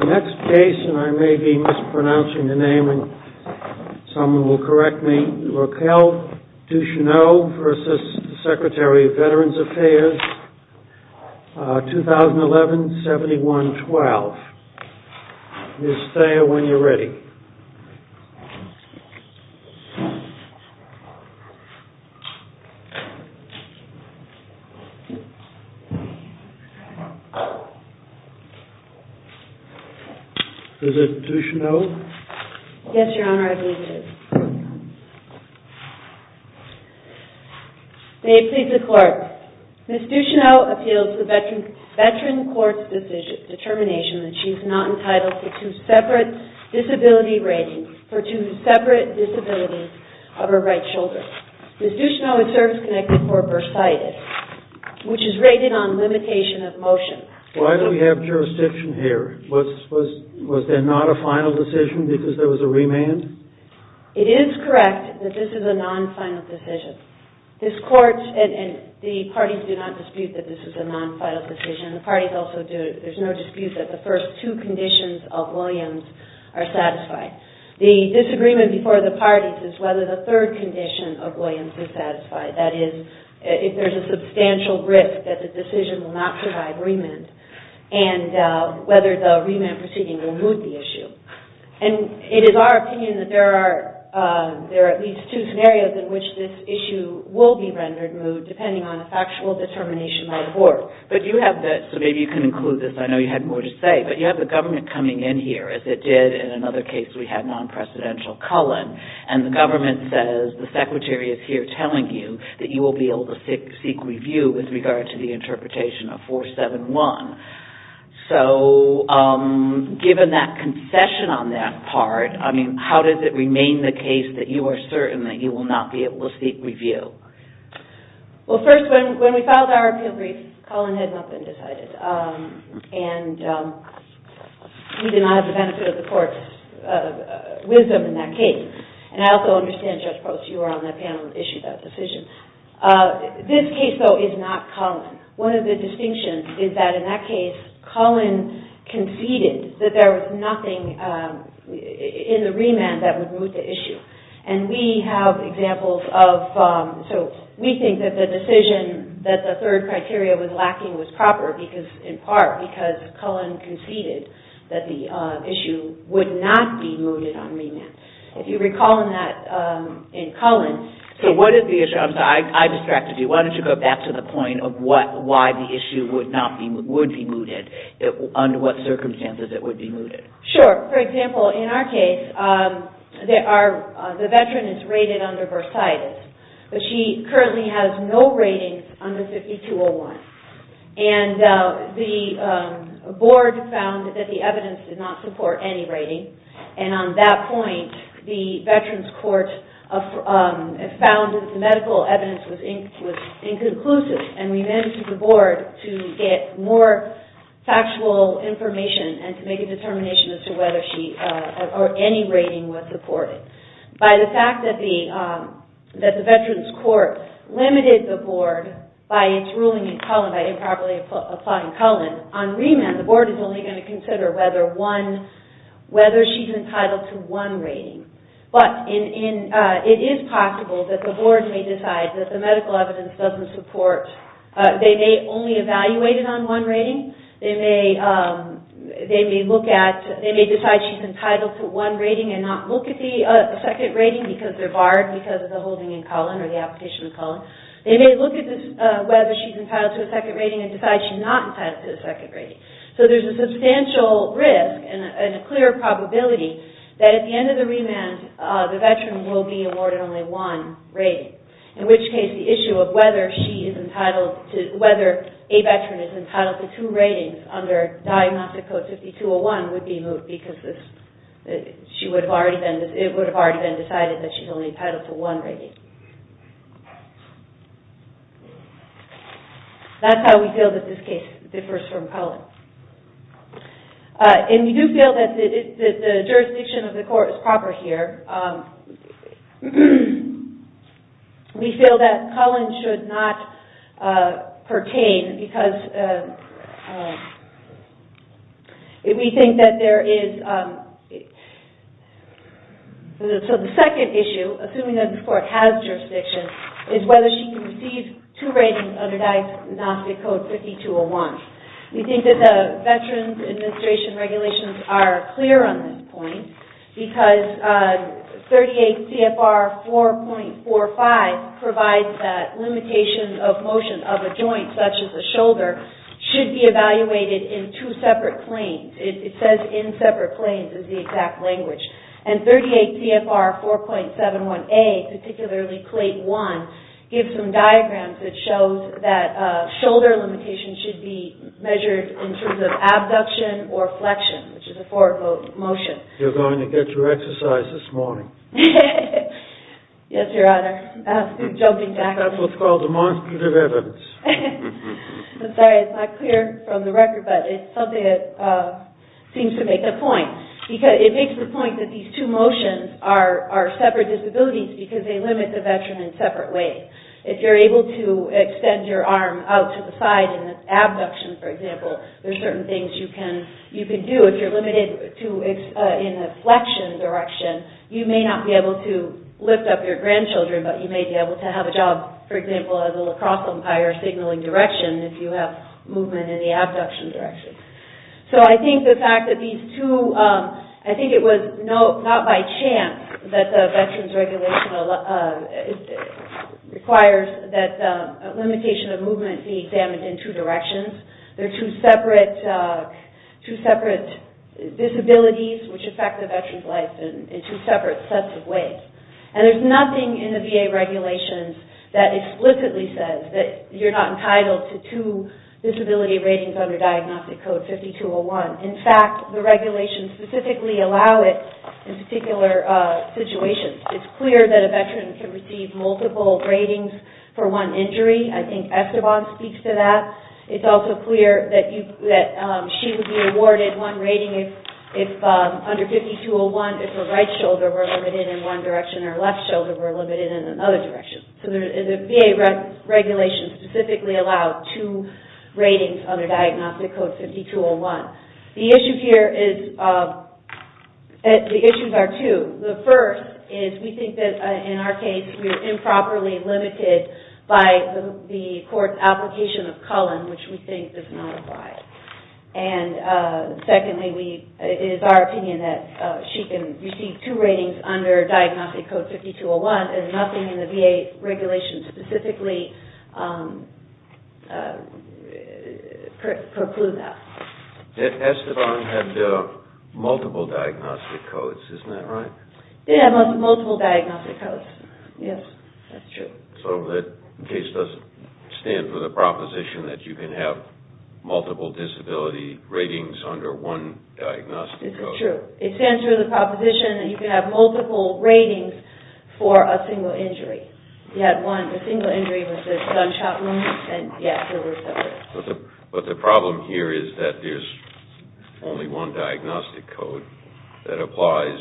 2011-71-12 Ms. Thayer, when you're ready. Is it Ducheneau? Yes, Your Honor, I believe it is. May it please the Court. Ms. Ducheneau appeals the veteran court's determination that she is not entitled to two separate disability ratings for two separate disabilities of her right shoulder. Ms. Ducheneau is service-connected for bursitis, which is rated on limitation of motion. Why do we have jurisdiction here? Was that not a final decision because there was a remand? It is correct that this is a non-final decision. This Court and the parties do not dispute that this is a non-final decision. The parties also do not dispute that the first two conditions of Williams are satisfied. The disagreement before the parties is whether the third condition of Williams is satisfied. That is, if there is a substantial risk that the decision will not provide remand and whether the remand proceeding will move the issue. And it is our opinion that there are at least two scenarios in which this issue will be rendered moved depending on a factual determination by the Court. But you have the – so maybe you can include this. I know you had more to say. But you have the government coming in here, as it did in another case we had, non-precedential Cullen, and the government says the Secretary is here telling you that you will be able to seek review with regard to the interpretation of 471. So given that concession on that part, I mean, how does it remain the case that you are certain that you will not be able to seek review? Well, first, when we filed our appeal brief, Cullen had not been decided. And we did not have the benefit of the Court's wisdom in that case. And I also understand, Judge Post, you were on that panel and issued that decision. This case, though, is not Cullen. One of the distinctions is that in that case, Cullen conceded that there was nothing in the remand that would move the issue. And we have examples of – so we think that the decision that the third criteria was lacking was proper, in part because Cullen conceded that the issue would not be moved on remand. If you recall in that – in Cullen – why the issue would be mooted, under what circumstances it would be mooted. Sure. For example, in our case, the veteran is rated under bursitis. But she currently has no ratings under 5201. And the board found that the evidence did not support any rating. And on that point, the Veterans Court found that the medical evidence was inconclusive. And we managed with the board to get more factual information and to make a determination as to whether she – or any rating was supported. By the fact that the Veterans Court limited the board by its ruling in Cullen, by improperly applying Cullen, on remand, the board is only going to consider whether one – whether she's entitled to one rating. But it is possible that the board may decide that the medical evidence doesn't support – they may only evaluate it on one rating. They may look at – they may decide she's entitled to one rating and not look at the second rating because they're barred because of the holding in Cullen or the application in Cullen. They may look at whether she's entitled to a second rating and decide she's not entitled to a second rating. So there's a substantial risk and a clear probability that at the end of the remand, the Veteran will be awarded only one rating. In which case, the issue of whether she is entitled to – whether a Veteran is entitled to two ratings under diagnostic code 5201 would be moved because she would have already been – it would have already been decided that she's only entitled to one rating. That's how we feel that this case differs from Cullen. And we do feel that the jurisdiction of the court is proper here. We feel that Cullen should not pertain because we think that there is – So the second issue, assuming that the court has jurisdiction, is whether she can receive two ratings under diagnostic code 5201. We think that the Veterans Administration regulations are clear on this point because 38 CFR 4.45 provides that limitation of motion of a joint such as a shoulder should be evaluated in two separate claims. It says in separate claims is the exact language. And 38 CFR 4.71a, particularly plate 1, gives some diagrams that shows that shoulder limitations should be measured in terms of abduction or flexion, which is a forward motion. You're going to get your exercise this morning. Yes, Your Honor. That's what's called demonstrative evidence. I'm sorry. It's not clear from the record, but it's something that seems to make a point. It makes the point that these two motions are separate disabilities because they limit the veteran in separate ways. If you're able to extend your arm out to the side in an abduction, for example, there's certain things you can do. If you're limited in a flexion direction, you may not be able to lift up your grandchildren, but you may be able to have a job, for example, as a lacrosse umpire signaling direction if you have movement in the abduction direction. So I think the fact that these two – I think it was not by chance that the veterans' regulation requires that the limitation of movement be examined in two directions. They're two separate disabilities which affect the veteran's life in two separate sets of ways. And there's nothing in the VA regulations that explicitly says that you're not entitled to two disability ratings under Diagnostic Code 5201. In fact, the regulations specifically allow it in particular situations. It's clear that a veteran can receive multiple ratings for one injury. I think Esteban speaks to that. It's also clear that she would be awarded one rating under 5201 if her right shoulder were limited in one direction and her left shoulder were limited in another direction. So the VA regulations specifically allow two ratings under Diagnostic Code 5201. The issue here is – the issues are two. The first is we think that, in our case, we're improperly limited by the court's application of Cullen, which we think does not apply. And secondly, it is our opinion that she can receive two ratings under Diagnostic Code 5201. There's nothing in the VA regulations specifically precludes that. Esteban had multiple Diagnostic Codes. Isn't that right? They have multiple Diagnostic Codes. Yes, that's true. So the case doesn't stand for the proposition that you can have multiple disability ratings under one Diagnostic Code. This is true. It stands for the proposition that you can have multiple ratings for a single injury. You had one, a single injury with a gunshot wound, and, yes, there were several. But the problem here is that there's only one Diagnostic Code that applies,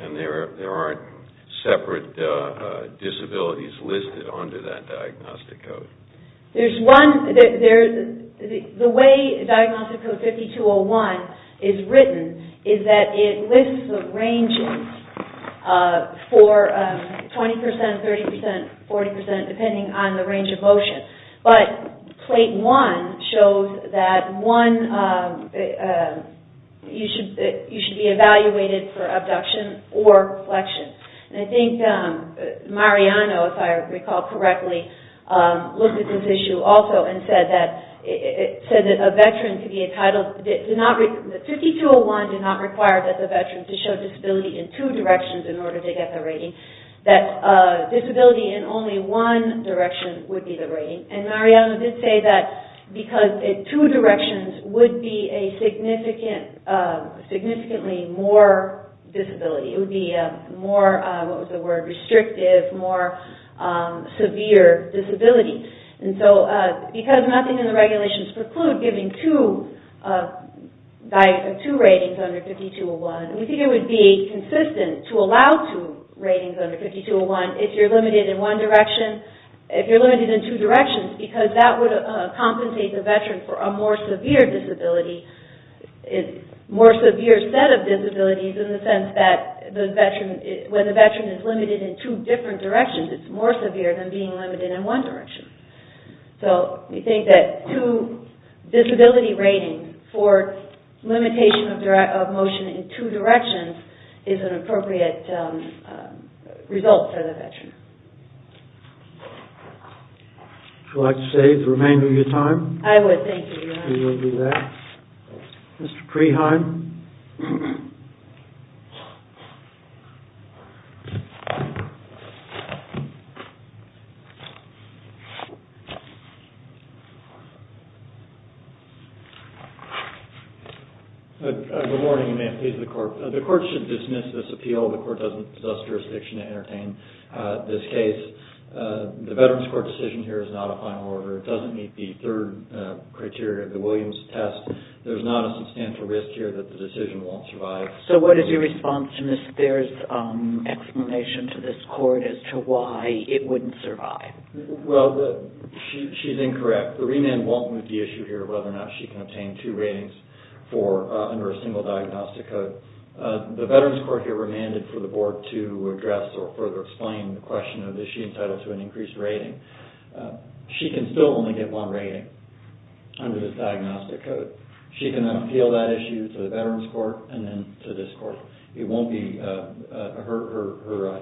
and there aren't separate disabilities listed under that Diagnostic Code. There's one – the way Diagnostic Code 5201 is written is that it lists the ranges for 20 percent, 30 percent, 40 percent, depending on the range of motion. But Plate 1 shows that one – you should be evaluated for abduction or flexion. And I think Mariano, if I recall correctly, looked at this issue also and said that a veteran could be entitled – 5201 did not require that the veteran to show disability in two directions in order to get the rating. That disability in only one direction would be the rating. And Mariano did say that because two directions would be a significantly more disability. It would be a more – what was the word – restrictive, more severe disability. And so because nothing in the regulations preclude giving two ratings under 5201, we think it would be consistent to allow two ratings under 5201 if you're limited in one direction – if you're limited in two directions, because that would compensate the veteran for a more severe disability – more severe set of disabilities in the sense that the veteran – when the veteran is limited in two different directions, it's more severe than being limited in one direction. So we think that two disability ratings for limitation of motion in two directions is an appropriate result for the veteran. Would you like to save the remainder of your time? I would, thank you. We will do that. Mr. Creheim? Good morning, ma'am. Please, the court. The court should dismiss this appeal. The court doesn't possess jurisdiction to entertain this case. The Veterans Court decision here is not a final order. It doesn't meet the third criteria of the Williams test. There's not a substantial risk here that the decision won't survive. So what is your response to Ms. Bair's explanation to this court as to why it wouldn't survive? Well, she's incorrect. The remand won't move the issue here of whether or not she can obtain two ratings under a single diagnostic code. The Veterans Court here remanded for the board to address or further explain the question of is she entitled to an increased rating. She can still only get one rating under this diagnostic code. She can appeal that issue to the Veterans Court and then to this court. Her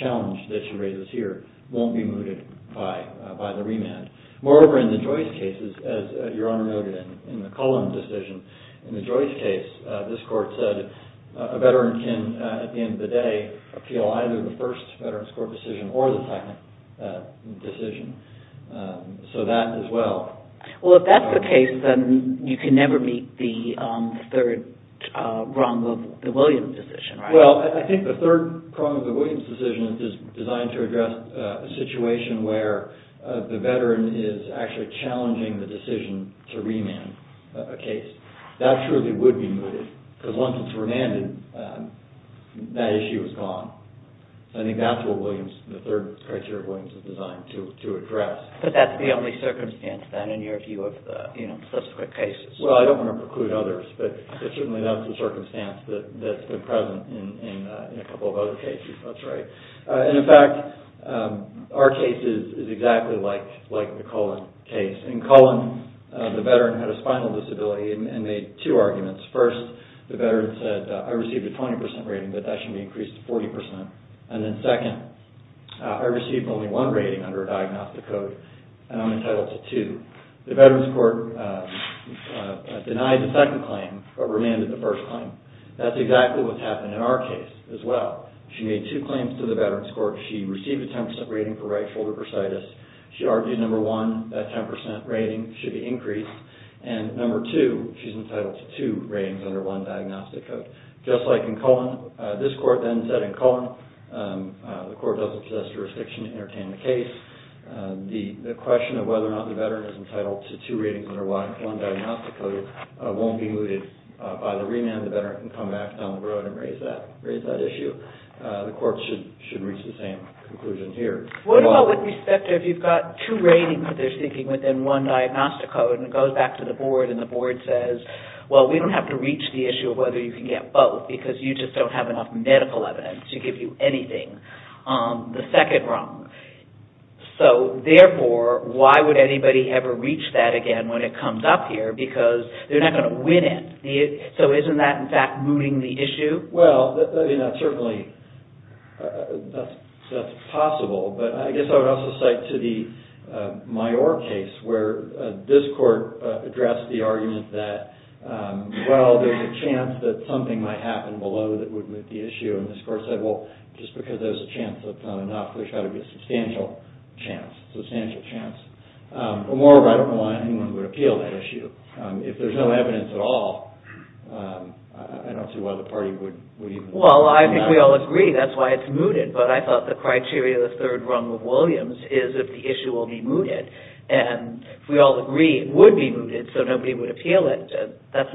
challenge that she raises here won't be mooted by the remand. Moreover, in the Joyce case, as Your Honor noted in the Cullen decision, in the Joyce case, this court said a veteran can, at the end of the day, appeal either the first Veterans Court decision or the second decision. So that as well. Well, if that's the case, then you can never meet the third prong of the Williams decision, right? Well, I think the third prong of the Williams decision is designed to address a situation where the veteran is actually challenging the decision to remand a case. That surely would be mooted because once it's remanded, that issue is gone. I think that's what the third criteria Williams is designed to address. But that's the only circumstance, then, in your view of the subsequent cases. Well, I don't want to preclude others, but it's certainly not the circumstance that's been present in a couple of other cases. That's right. In fact, our case is exactly like the Cullen case. In Cullen, the veteran had a spinal disability and made two arguments. First, the veteran said, I received a 20% rating, but that should be increased to 40%. And then second, I received only one rating under a diagnostic code, and I'm entitled to two. The veterans court denied the second claim, but remanded the first claim. That's exactly what's happened in our case as well. She made two claims to the veterans court. She received a 10% rating for right shoulder bursitis. She argued, number one, that 10% rating should be increased. And number two, she's entitled to two ratings under one diagnostic code. Just like in Cullen, this court then said in Cullen, the court doesn't possess jurisdiction to entertain the case. The question of whether or not the veteran is entitled to two ratings under one diagnostic code won't be mooted by the remand. The veteran can come back down the road and raise that issue. The court should reach the same conclusion here. What about with respect to if you've got two ratings that they're seeking within one diagnostic code and it goes back to the board and the board says, well, we don't have to reach the issue of whether you can get both because you just don't have enough medical evidence to give you anything. The second wrong. So, therefore, why would anybody ever reach that again when it comes up here because they're not going to win it. So isn't that, in fact, mooting the issue? Well, certainly that's possible. But I guess I would also cite to the Myore case where this court addressed the argument that, well, there's a chance that something might happen below that would moot the issue. And this court said, well, just because there's a chance that's not enough, there's got to be a substantial chance, substantial chance. But moreover, I don't know why anyone would appeal that issue. If there's no evidence at all, I don't see why the party would even... Well, I think we all agree that's why it's mooted. But I thought the criteria of the third wrong of Williams is if the issue will be mooted. And if we all agree it would be mooted so nobody would appeal it, that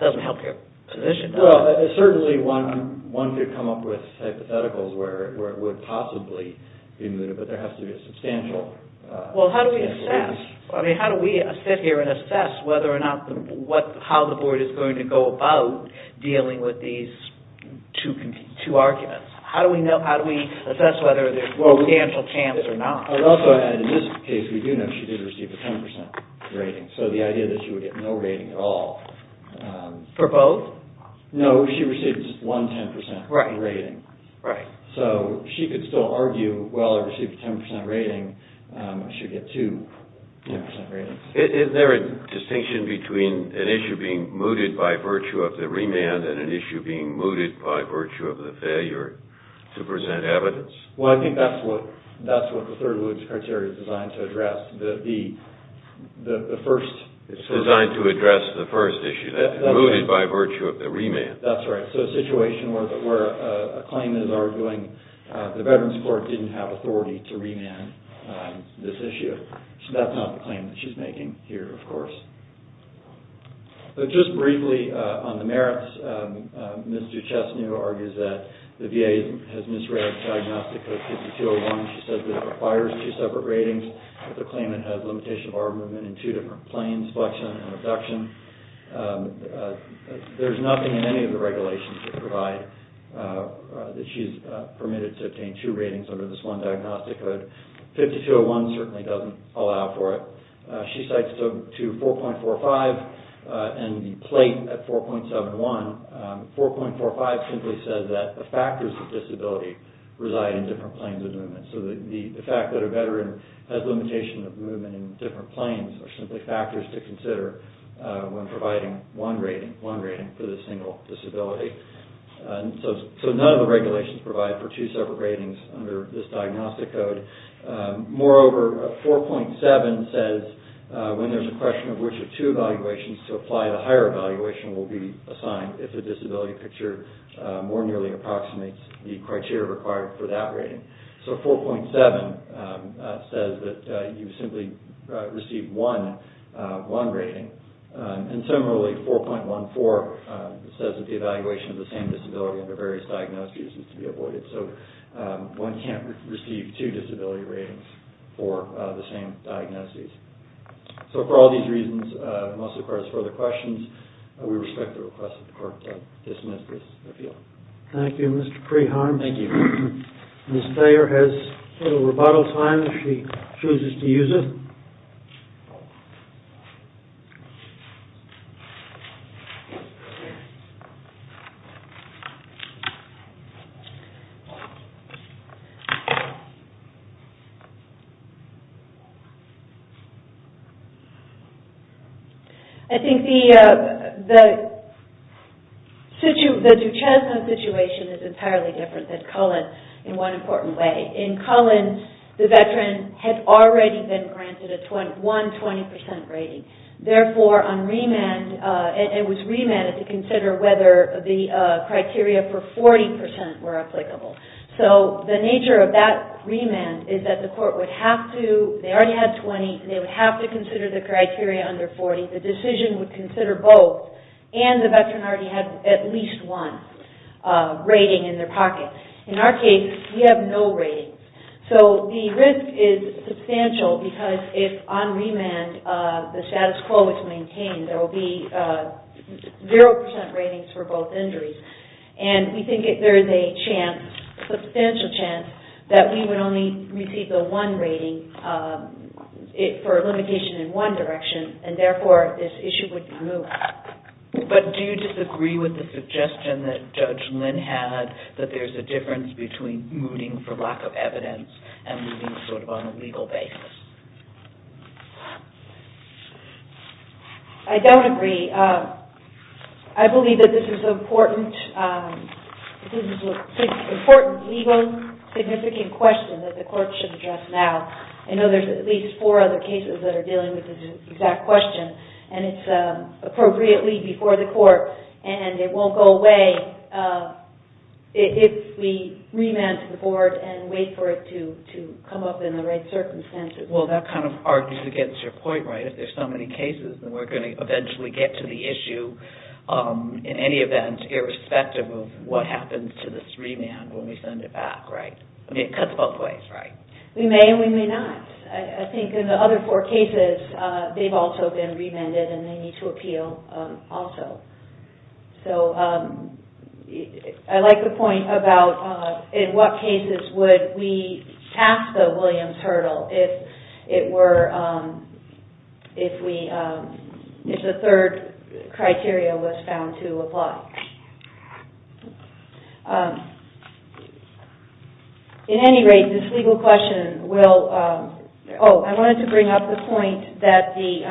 doesn't help your position. Well, certainly one could come up with hypotheticals where it would possibly be mooted, but there has to be a substantial... Well, how do we assess? I mean, how do we sit here and assess whether or not how the board is going to go about dealing with these two arguments? How do we assess whether there's substantial chance or not? I would also add in this case, we do know she did receive a 10% rating. So the idea that she would get no rating at all... For both? No, she received just one 10% rating. Right. So she could still argue, well, I received a 10% rating. I should get two 10% ratings. Is there a distinction between an issue being mooted by virtue of the remand and an issue being mooted by virtue of the failure to present evidence? Well, I think that's what the third Williams criteria is designed to address. The first... It's designed to address the first issue, mooted by virtue of the remand. That's right. So a situation where a claim is arguing the Veterans Court didn't have authority to remand this issue. So that's not the claim that she's making here, of course. Just briefly on the merits, Ms. Duchesneau argues that the VA has misread the diagnostic code 5201. She says that it requires two separate ratings, that the claimant has limitation of arm movement in two different planes, flexion and abduction. There's nothing in any of the regulations to provide that she's permitted to obtain two ratings under this one diagnostic code. 5201 certainly doesn't allow for it. She cites to 4.45 and the plate at 4.71. 4.45 simply says that the factors of disability reside in different planes of movement. So the fact that a Veteran has limitation of movement in different planes are simply factors to consider when providing one rating for this single disability. So none of the regulations provide for two separate ratings under this diagnostic code. Moreover, 4.7 says when there's a question of which of two evaluations to apply, the higher evaluation will be assigned if the disability picture more nearly approximates the criteria required for that rating. So 4.7 says that you simply receive one rating. And similarly, 4.14 says that the evaluation of the same disability under various diagnoses is to be avoided. So one can't receive two disability ratings for the same diagnoses. So for all these reasons, unless there are further questions, we respect the request of the court to dismiss this appeal. Thank you, Mr. Preheim. Thank you. Ms. Thayer has a little rebuttal time if she chooses to use it. I think the Duchesne situation is entirely different than Cullen in one important way. In Cullen, the Veteran had already been granted a 120% rating. Therefore, it was remanded to consider whether the criteria for 40% were applicable. So the nature of that remand is that the court would have to, they already had 20, and they would have to consider the criteria under 40. The decision would consider both. And the Veteran already had at least one rating in their pocket. In our case, we have no rating. So the risk is substantial because if on remand the status quo is maintained, there will be 0% ratings for both injuries. And we think there is a chance, substantial chance, that we would only receive the one rating for a limitation in one direction, and therefore this issue would be moved. But do you disagree with the suggestion that Judge Lynn had, that there's a difference between moving for lack of evidence and moving sort of on a legal basis? I don't agree. I believe that this is an important legal significant question that the court should address now. I know there's at least four other cases that are dealing with this exact question, and it's appropriately before the court, and it won't go away if we remand to the board and wait for it to come up in the right circumstances. Well, that kind of argues against your point, right? If there's so many cases, then we're going to eventually get to the issue in any event, irrespective of what happens to this remand when we send it back, right? I mean, it cuts both ways, right? We may and we may not. I think in the other four cases, they've also been remanded and they need to appeal also. So, I like the point about in what cases would we pass the Williams hurdle if it were, if we, if the third criteria was found to apply. In any rate, this legal question will, oh, I wanted to bring up the point that the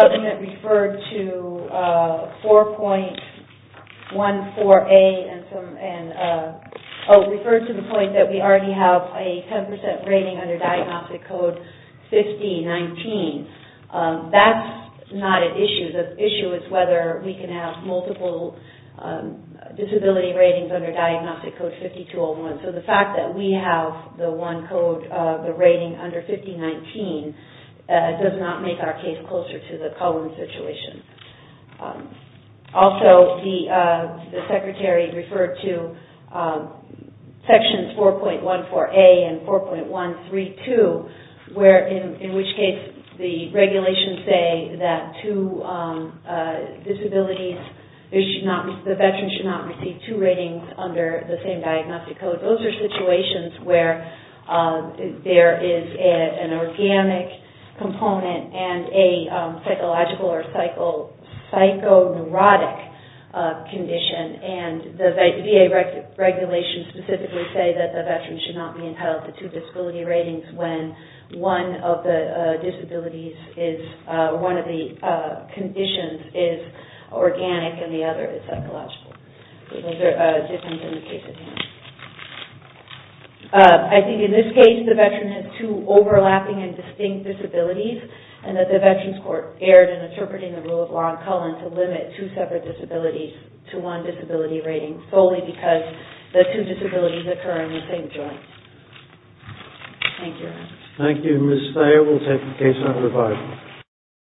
government referred to 4.14A and some, and oh, referred to the point that we already have a 10% rating under diagnostic code 5019. That's not an issue. The issue is whether we can have multiple disability ratings under diagnostic code 5201. So, the fact that we have the one code, the rating under 5019, does not make our case closer to the Cohen situation. Also, the secretary referred to sections 4.14A and 4.132, where in which case the regulations say that two disabilities, the veterans should not receive two ratings under the same diagnostic code. Those are situations where there is an organic component and a psychological or psycho-neurotic condition. And the VA regulations specifically say that the veterans should not be entitled to two disability ratings when one of the disabilities is, one of the conditions is organic and the other is psychological. So, those are different than the case at hand. I think in this case, the veteran has two overlapping and distinct disabilities and that the Veterans Court erred in interpreting the rule of law in Cullen to limit two separate disabilities to one disability rating solely because the two disabilities occur in the same joint. Thank you. Thank you, Ms. Thayer. We'll take the case under review.